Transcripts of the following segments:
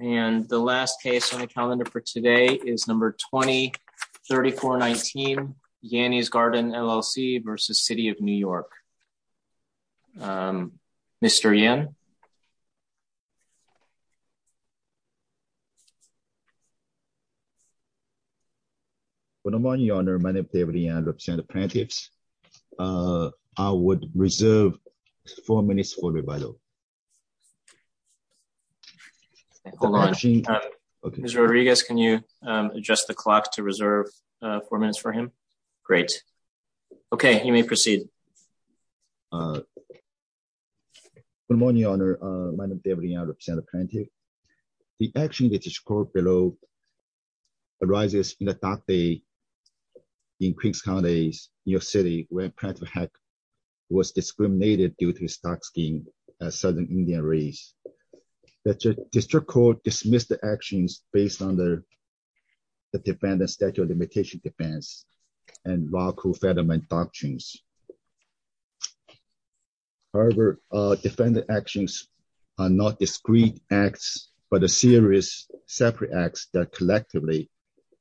And the last case on the calendar for today is number 20-3419, Yany's Garden LLC versus City of New York. Mr. Yen. Good morning, Your Honor. My name is David Yen. I would reserve four minutes for rebuttal. Hold on. Mr. Rodriguez, can you adjust the clock to reserve four minutes for him? Great. Okay, you may proceed. Good morning, Your Honor. My name is David Yen. I represent Plantech. The action that is called below arises in the dark day in Queens County, New York City, where Plantech was discriminated due to his dark skin as Southern Indian race. The district court dismissed the actions based on the defendant's statute of limitation defense and lawful federalized doctrines. However, defendant actions are not discrete acts, but a series of separate acts that collectively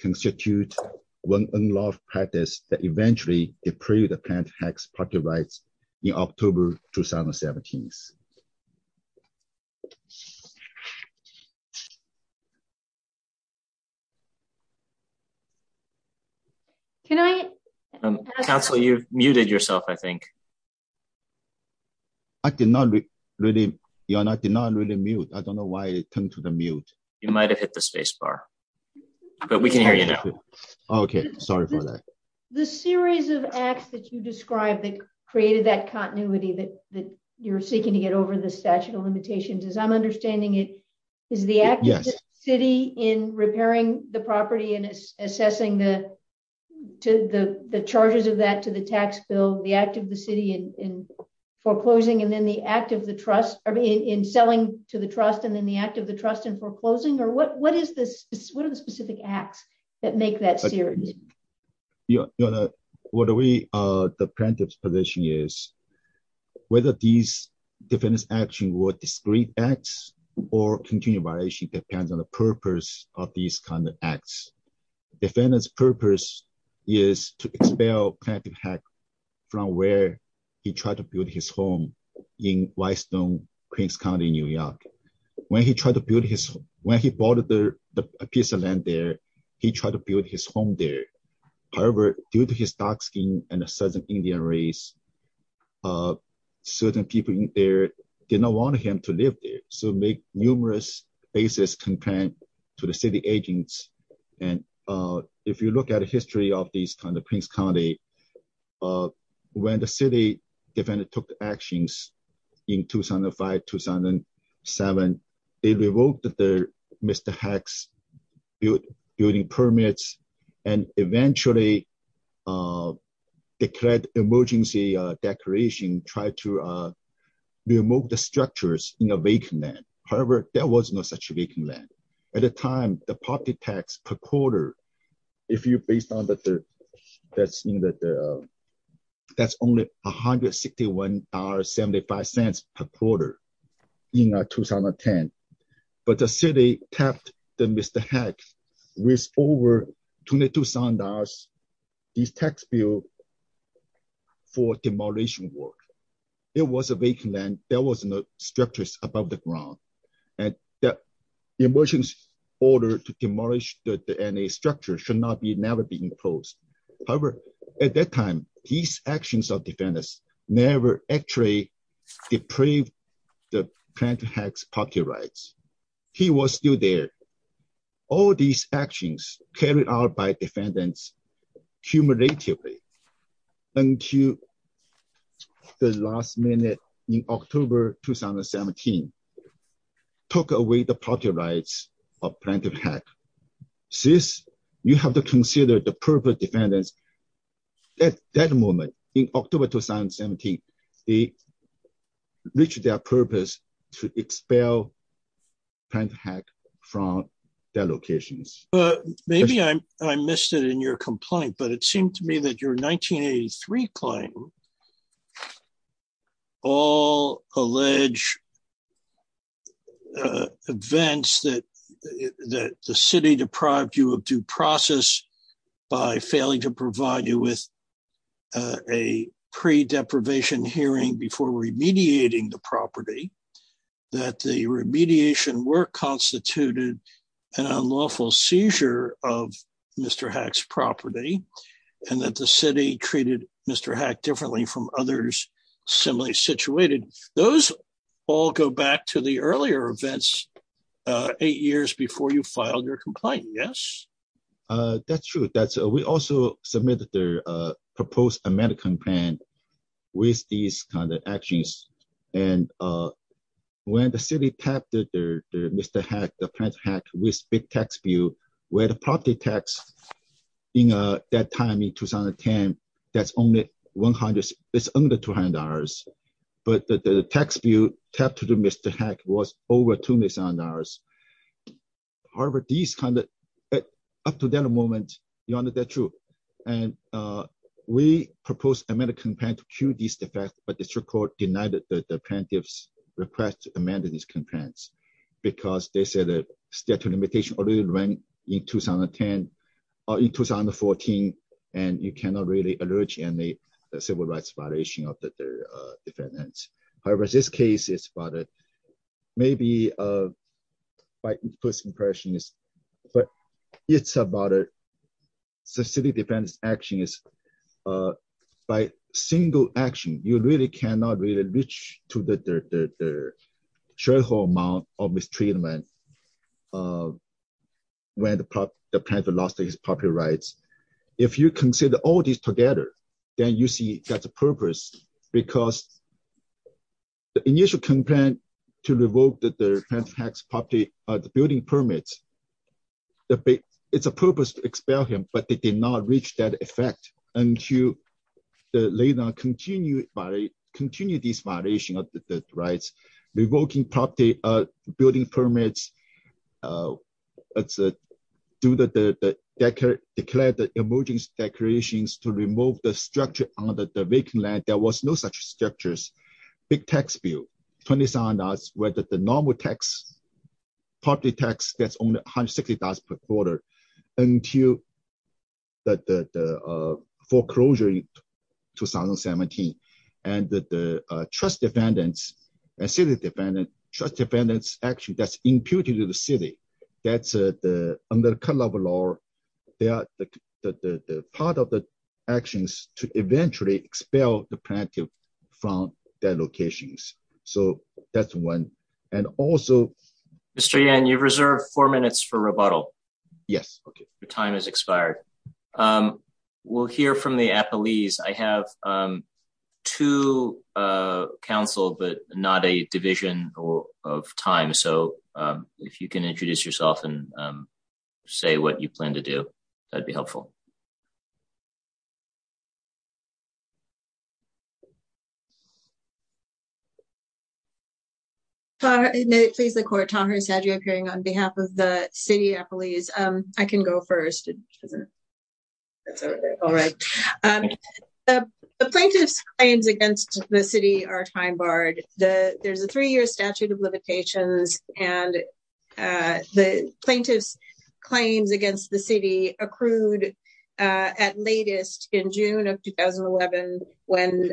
constitute one unlawful practice that eventually deprive the Plantech's property rights in October, 2017. Thank you. Can I- Counsel, you've muted yourself, I think. I did not really, Your Honor, I did not really mute. I don't know why it turned to the mute. You might've hit the space bar, but we can hear you now. Okay, sorry for that. The series of acts that you described that created that continuity that you're seeking to get over the statute of limitations, as I'm understanding it, is the act of the city in repairing the property and assessing the charges of that to the tax bill, the act of the city in foreclosing, and then the act of the trust, I mean, in selling to the trust, and then the act of the trust in foreclosing, or what are the specific acts that make that series? Your Honor, what we, the Plantech's position is, whether these defendant's action were discrete acts or continuity violation depends on the purpose of these kind of acts. Defendant's purpose is to expel Plantech Heck from where he tried to build his home in Whitestone, Queens County, New York. When he tried to build his, when he bought the piece of land there, he tried to build his home there. However, due to his dark skin and a Southern Indian race, certain people in there did not want him to live there, so make numerous bases complained to the city agents. And if you look at a history of these kind of Queens County, when the city defendant took actions in 2005, 2007, they revoked Mr. Heck's building permits, and eventually declared emergency declaration, tried to remove the structures in a vacant land. However, there was no such vacant land. At the time, the property tax per quarter, if you based on the, that's only $161.75 per quarter in 2010, but the city tapped the Mr. Heck with over $2,200, these tax bill for demolition work. It was a vacant land, there was no structures above the ground, and the emergency order to demolish the structure should not be, never be imposed. However, at that time, these actions of defendants never actually depraved the Plaintiff Heck's property rights. He was still there. All these actions carried out by defendants cumulatively until the last minute in October, 2017, took away the property rights of Plaintiff Heck. Since you have to consider the purpose defendants at that moment in October, 2017, reached their purpose to expel Plaintiff Heck from their locations. Maybe I missed it in your complaint, but it seemed to me that your 1983 claim, all alleged events that the city deprived you of due process by failing to provide you with a pre-deprivation hearing before remediating the property, that the remediation work constituted an unlawful seizure of Mr. Heck's property, and that the city treated Mr. Heck differently from others similarly situated, those all go back to the earlier events, eight years before you filed your complaint, yes? That's true. We also submitted the proposed amendment complaint with these kind of actions. And when the city tapped Mr. Heck, the Plaintiff Heck with big tax bill, where the property tax in that time in 2010, that's only 100, it's under $200. But the tax bill tapped to Mr. Heck was over $200. However, these kind of, up to that moment, you under that truth. And we proposed amendment complaint to cure these defects, but district court denied that the Plaintiff's request to amend these complaints, because they said that statute limitation already ran in 2010, or in 2014, and you cannot really allege any civil rights violation of the defendants. However, this case is about it. Maybe by first impression is, but it's about it. So city defense action is by single action, you really cannot really reach to the sharehold amount of mistreatment when the Plaintiff lost his property rights. If you consider all these together, then you see that's a purpose, because the initial complaint to revoke the Plaintiff Heck's property building permits, it's a purpose to expel him, but they did not reach that effect until they now continue this violation of the rights, revoking property building permits, do the, declare the emergency declarations to remove the structure on the vacant land that there was no such structures, big tax bill, $27, where the normal tax, property tax, that's only $160 per quarter, until the foreclosure in 2017, and the trust defendants, and city defendants, trust defendants action that's imputed to the city, that's under the current level of law, they are the part of the actions to eventually expel the Plaintiff from their locations. So that's one. And also- Mr. Yan, you've reserved four minutes for rebuttal. Yes, okay. Your time has expired. We'll hear from the appellees. I have two counsel, but not a division of time. So if you can introduce yourself and say what you plan to do, that'd be helpful. Thank you. Please, the court, Tahir Sadio appearing on behalf of the city appellees. I can go first. All right. The Plaintiff's claims against the city are time barred. There's a three year statute of limitations, and the Plaintiff's claims against the city accrued at latest in June of 2011, when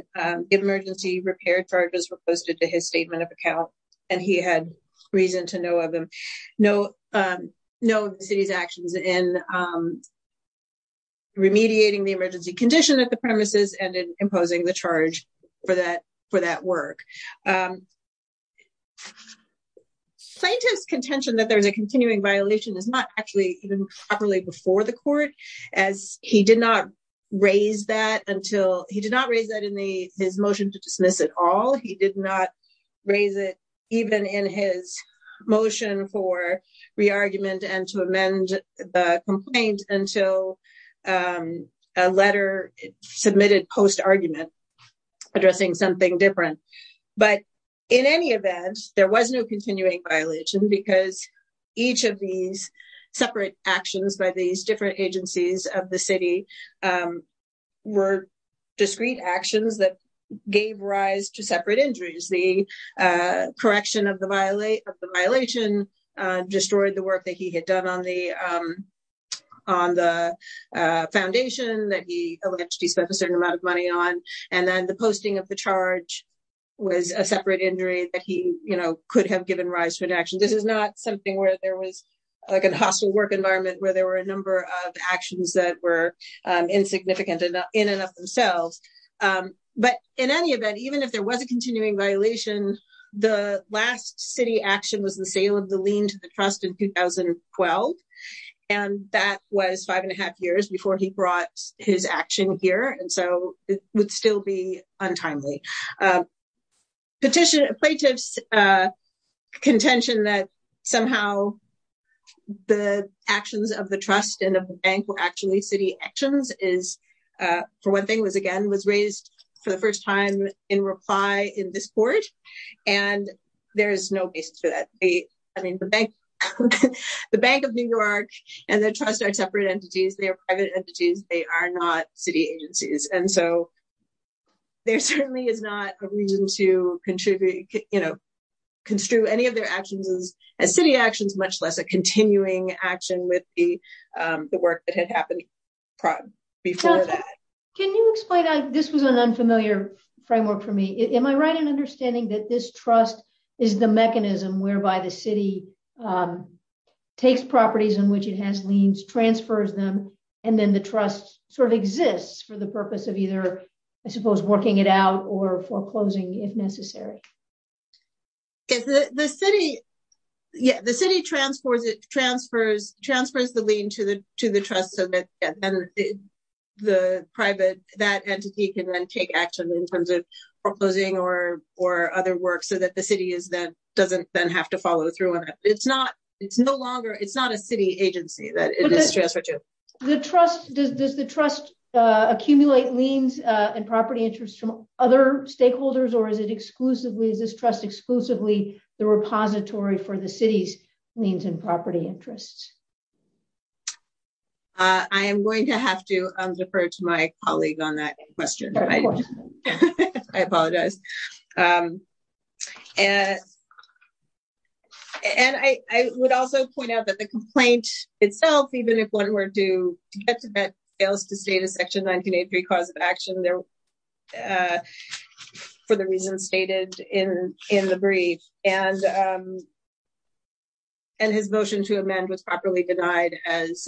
emergency repair charges were posted to his statement of account. And he had reason to know of the city's actions in remediating the emergency condition at the premises and in imposing the charge for that work. Plaintiff's contention that there's a continuing violation is not actually even properly before the court, as he did not raise that until, he did not raise that in his motion to dismiss at all. He did not raise it even in his motion for re-argument and to amend the complaint until a letter submitted post-argument addressing something different. But in any event, there was no continuing violation because each of these separate actions by these different agencies of the city were discrete actions that gave rise to separate injuries. The correction of the violation destroyed the work that he had done on the foundation that he alleged he spent a certain amount of money on. And then the posting of the charge was a separate injury that he could have given rise to an action. This is not something where there was like a hostile work environment where there were a number of actions that were insignificant in and of themselves. But in any event, even if there was a continuing violation, the last city action was the sale of the lien to the trust in 2012. And that was five and a half years before he brought his action here. And so it would still be untimely. Plaintiff's contention that somehow the actions of the trust and of the bank were actually city actions is, for one thing was again, was raised for the first time in reply in this court. And there is no basis for that. I mean, the Bank of New York and the trust are separate entities. They are private entities. They are not city agencies. And so there certainly is not a reason to construe any of their actions as city actions, much less a continuing action with the work that had happened before that. Can you explain, this was an unfamiliar framework for me. Am I right in understanding that this trust is the mechanism whereby the city takes properties in which it has liens, transfers them, and then the trust sort of exists for the purpose of either, I suppose, working it out or foreclosing if necessary? Yes, the city transfers the lien to the trust so that the private, that entity can then take action in terms of foreclosing or other work so that the city doesn't then have to follow through on it. It's not a city agency that it is transferred to. Does the trust accumulate liens and property interests from other stakeholders, or is it exclusively, is this trust exclusively the repository for the city's liens and property interests? I am going to have to defer to my colleague on that question. I apologize. And I would also point out that the complaint itself, even if one were to get to that, fails to state a section 1983 cause of action for the reasons stated in the brief. And his motion to amend was properly denied as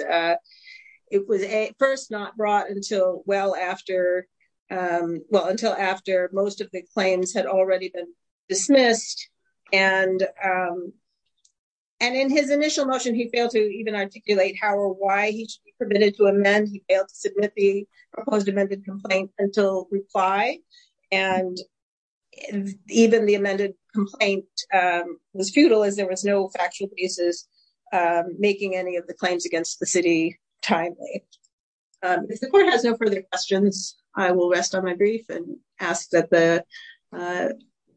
it was at first not brought until well after, well, until after most of the claims had already been dismissed. And in his initial motion, he failed to even articulate how or why he should be permitted to amend. He failed to submit the proposed amended complaint until reply. And even the amended complaint was futile as there was no factual basis making any of the claims against the city timely. If the court has no further questions, I will rest on my brief and ask that the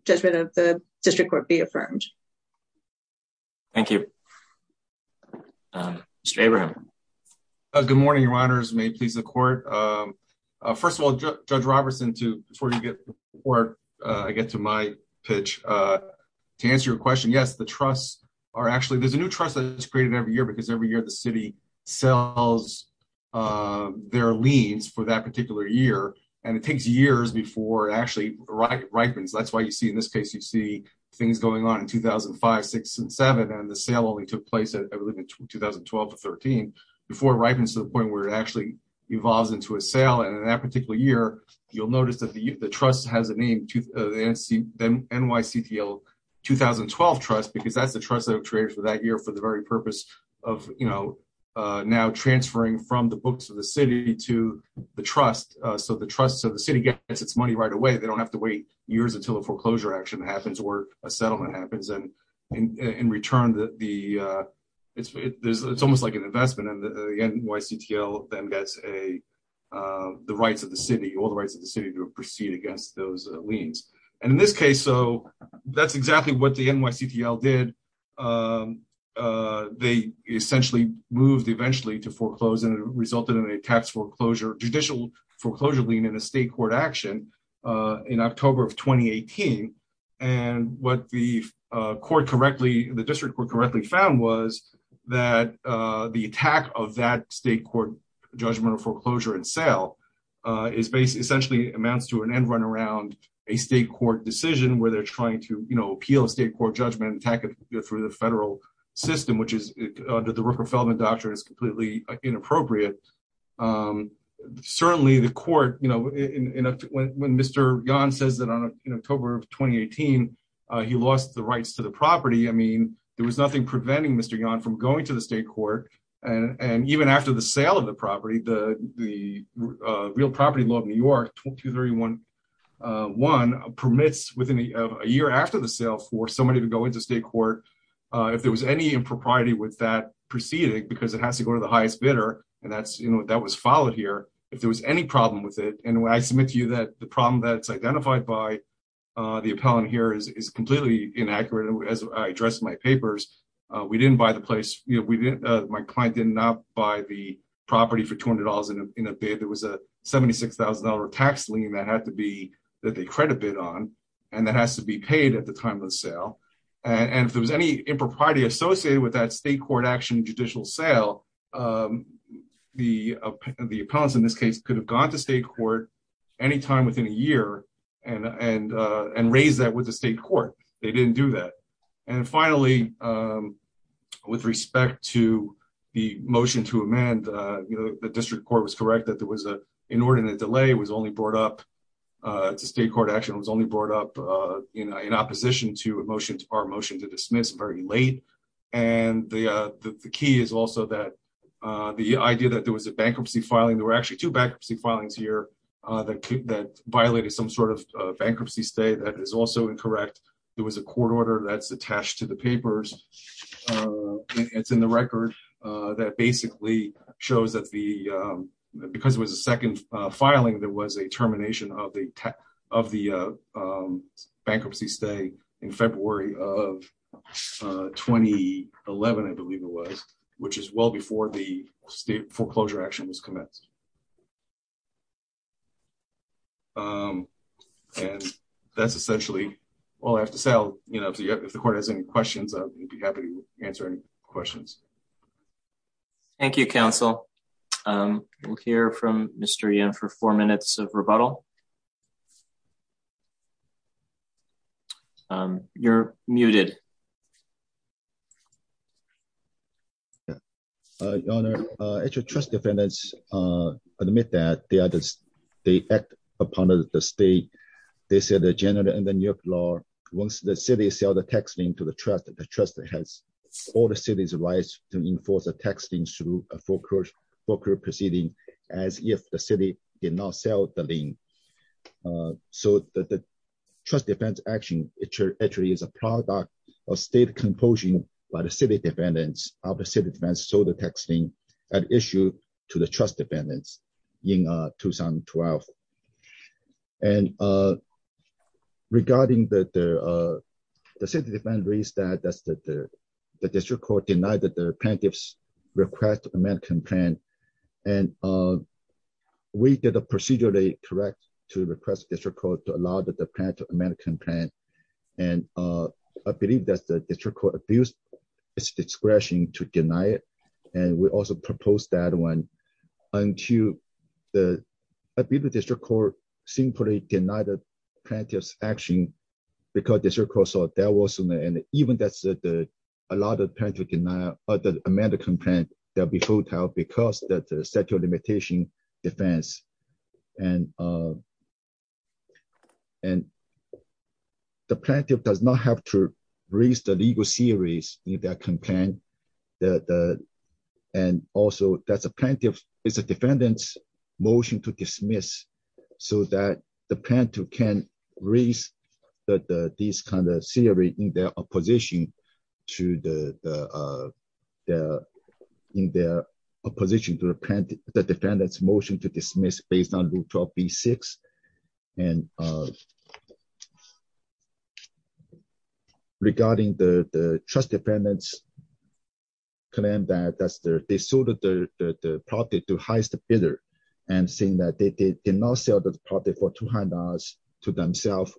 judgment of the district court be affirmed. Thank you. Mr. Abraham. Good morning, your honors. May it please the court. First of all, Judge Robertson, before I get to my pitch to answer your question. Yes, the trusts are actually, there's a new trust that is created every year because every year the city sells their liens for that particular year. And it takes years before it actually ripens. That's why you see in this case, you see things going on in 2005, six and seven, and then the sale only took place, I believe in 2012 to 13, before it ripens to the point where it actually evolves into a sale. And in that particular year, you'll notice that the trust has a name, the NYCTL 2012 trust, because that's the trust that was created for that year for the very purpose of now transferring from the books of the city to the trust. So the trust, so the city gets its money right away. They don't have to wait years until a foreclosure action happens or a settlement happens. And in return, it's almost like an investment. And the NYCTL then gets the rights of the city, all the rights of the city to proceed against those liens. And in this case, so that's exactly what the NYCTL did. They essentially moved eventually to foreclose and it resulted in a tax foreclosure, judicial foreclosure lien in a state court action in October of 2018. And what the court correctly, the district court correctly found was that the attack of that state court judgment of foreclosure and sale is basically, essentially amounts to an end run around a state court decision where they're trying to appeal a state court judgment and attack it through the federal system, which is under the Rooker-Feldman Doctrine is completely inappropriate. Certainly the court, when Mr. Yan says that in October of 2018, he lost the rights to the property. I mean, there was nothing preventing Mr. Yan from going to the state court. And even after the sale of the property, the real property law of New York, 231, permits within a year after the sale for somebody to go into state court, if there was any impropriety with that proceeding, because it has to go to the highest bidder and that was followed here. If there was any problem with it, and when I submit to you that the problem that's identified by the appellant here is completely inaccurate. As I addressed in my papers, we didn't buy the place. My client did not buy the property for $200 in a bid. There was a $76,000 tax lien that had to be, that they credit bid on, and that has to be paid at the time of the sale. And if there was any impropriety associated with that state court action judicial sale, the appellants in this case could have gone to state court anytime within a year and raise that with the state court. They didn't do that. And finally, with respect to the motion to amend, the district court was correct that there was an inordinate delay, it was only brought up, it's a state court action, it was only brought up in opposition to our motion to dismiss very late. And the key is also that the idea that there was a bankruptcy filing, there were actually two bankruptcy filings here that violated some sort of bankruptcy stay that is also incorrect. There was a court order that's attached to the papers. It's in the record that basically shows that the, because it was a second filing, there was a termination of the bankruptcy stay in February of 2011, I believe it was, which is well before the state foreclosure action was commenced. And that's essentially all I have to say. If the court has any questions, I'll be happy to answer any questions. Thank you, counsel. We'll hear from Mr. Yin for four minutes of rebuttal. You're muted. Your Honor, trust defendants admit that they act upon the state. They say the general and the New York law, once the city sell the tax lien to the trust, the trust has all the city's rights to enforce a tax lien through a foreclosure proceeding as if the city did not sell the lien. So the trust defense action, it actually is a product of state compulsion by the city defendants of the city defense sold the tax lien at issue to the trust defendants in 2012. And regarding the city defendants, the district court denied that the plaintiffs request the American plan. And we did a procedurally correct to request district court to allow that the plan to American plan. And I believe that the district court abused its discretion to deny it. And we also proposed that one until the district court simply denied the plaintiff's action because district court saw that wasn't there. And even that's a lot of plaintiff deny or the American plan, they'll be full time because that the statute of limitation defense. And the plaintiff does not have to raise the legal series in that campaign. And also that's a plaintiff, it's a defendant's motion to dismiss so that the plan to can raise these kind of theory in their opposition to the defendant's motion to dismiss based on rule 12B6. And regarding the trust defendants claim that they sold the property to highest bidder and saying that they did not sell the property for $200 to themselves.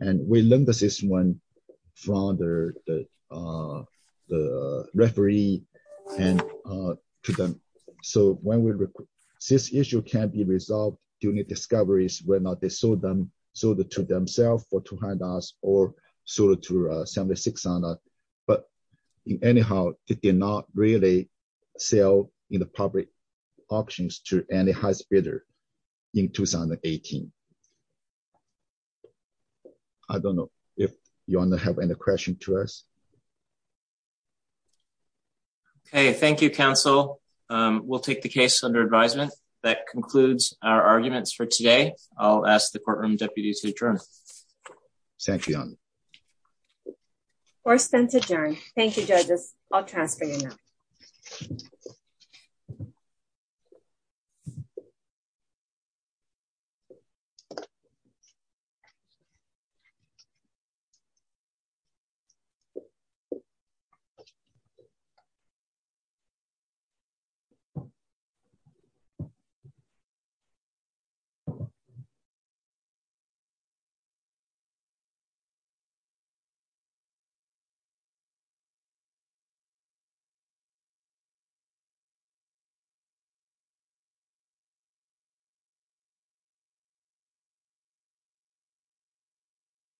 And we learned this one from the referee and to them. So when we, this issue can be resolved during the discoveries where not they sold them, sold it to themselves for $200 or sold it to 76 on that. But anyhow, they did not really sell in the public options to any high bidder in 2018. I don't know if you wanna have any question to us. Okay, thank you, counsel. We'll take the case under advisement. That concludes our arguments for today. I'll ask the courtroom deputies to adjourn. Thank you. Court is adjourned. Thank you, judges. I'll transfer you now. Thank you. Thank you.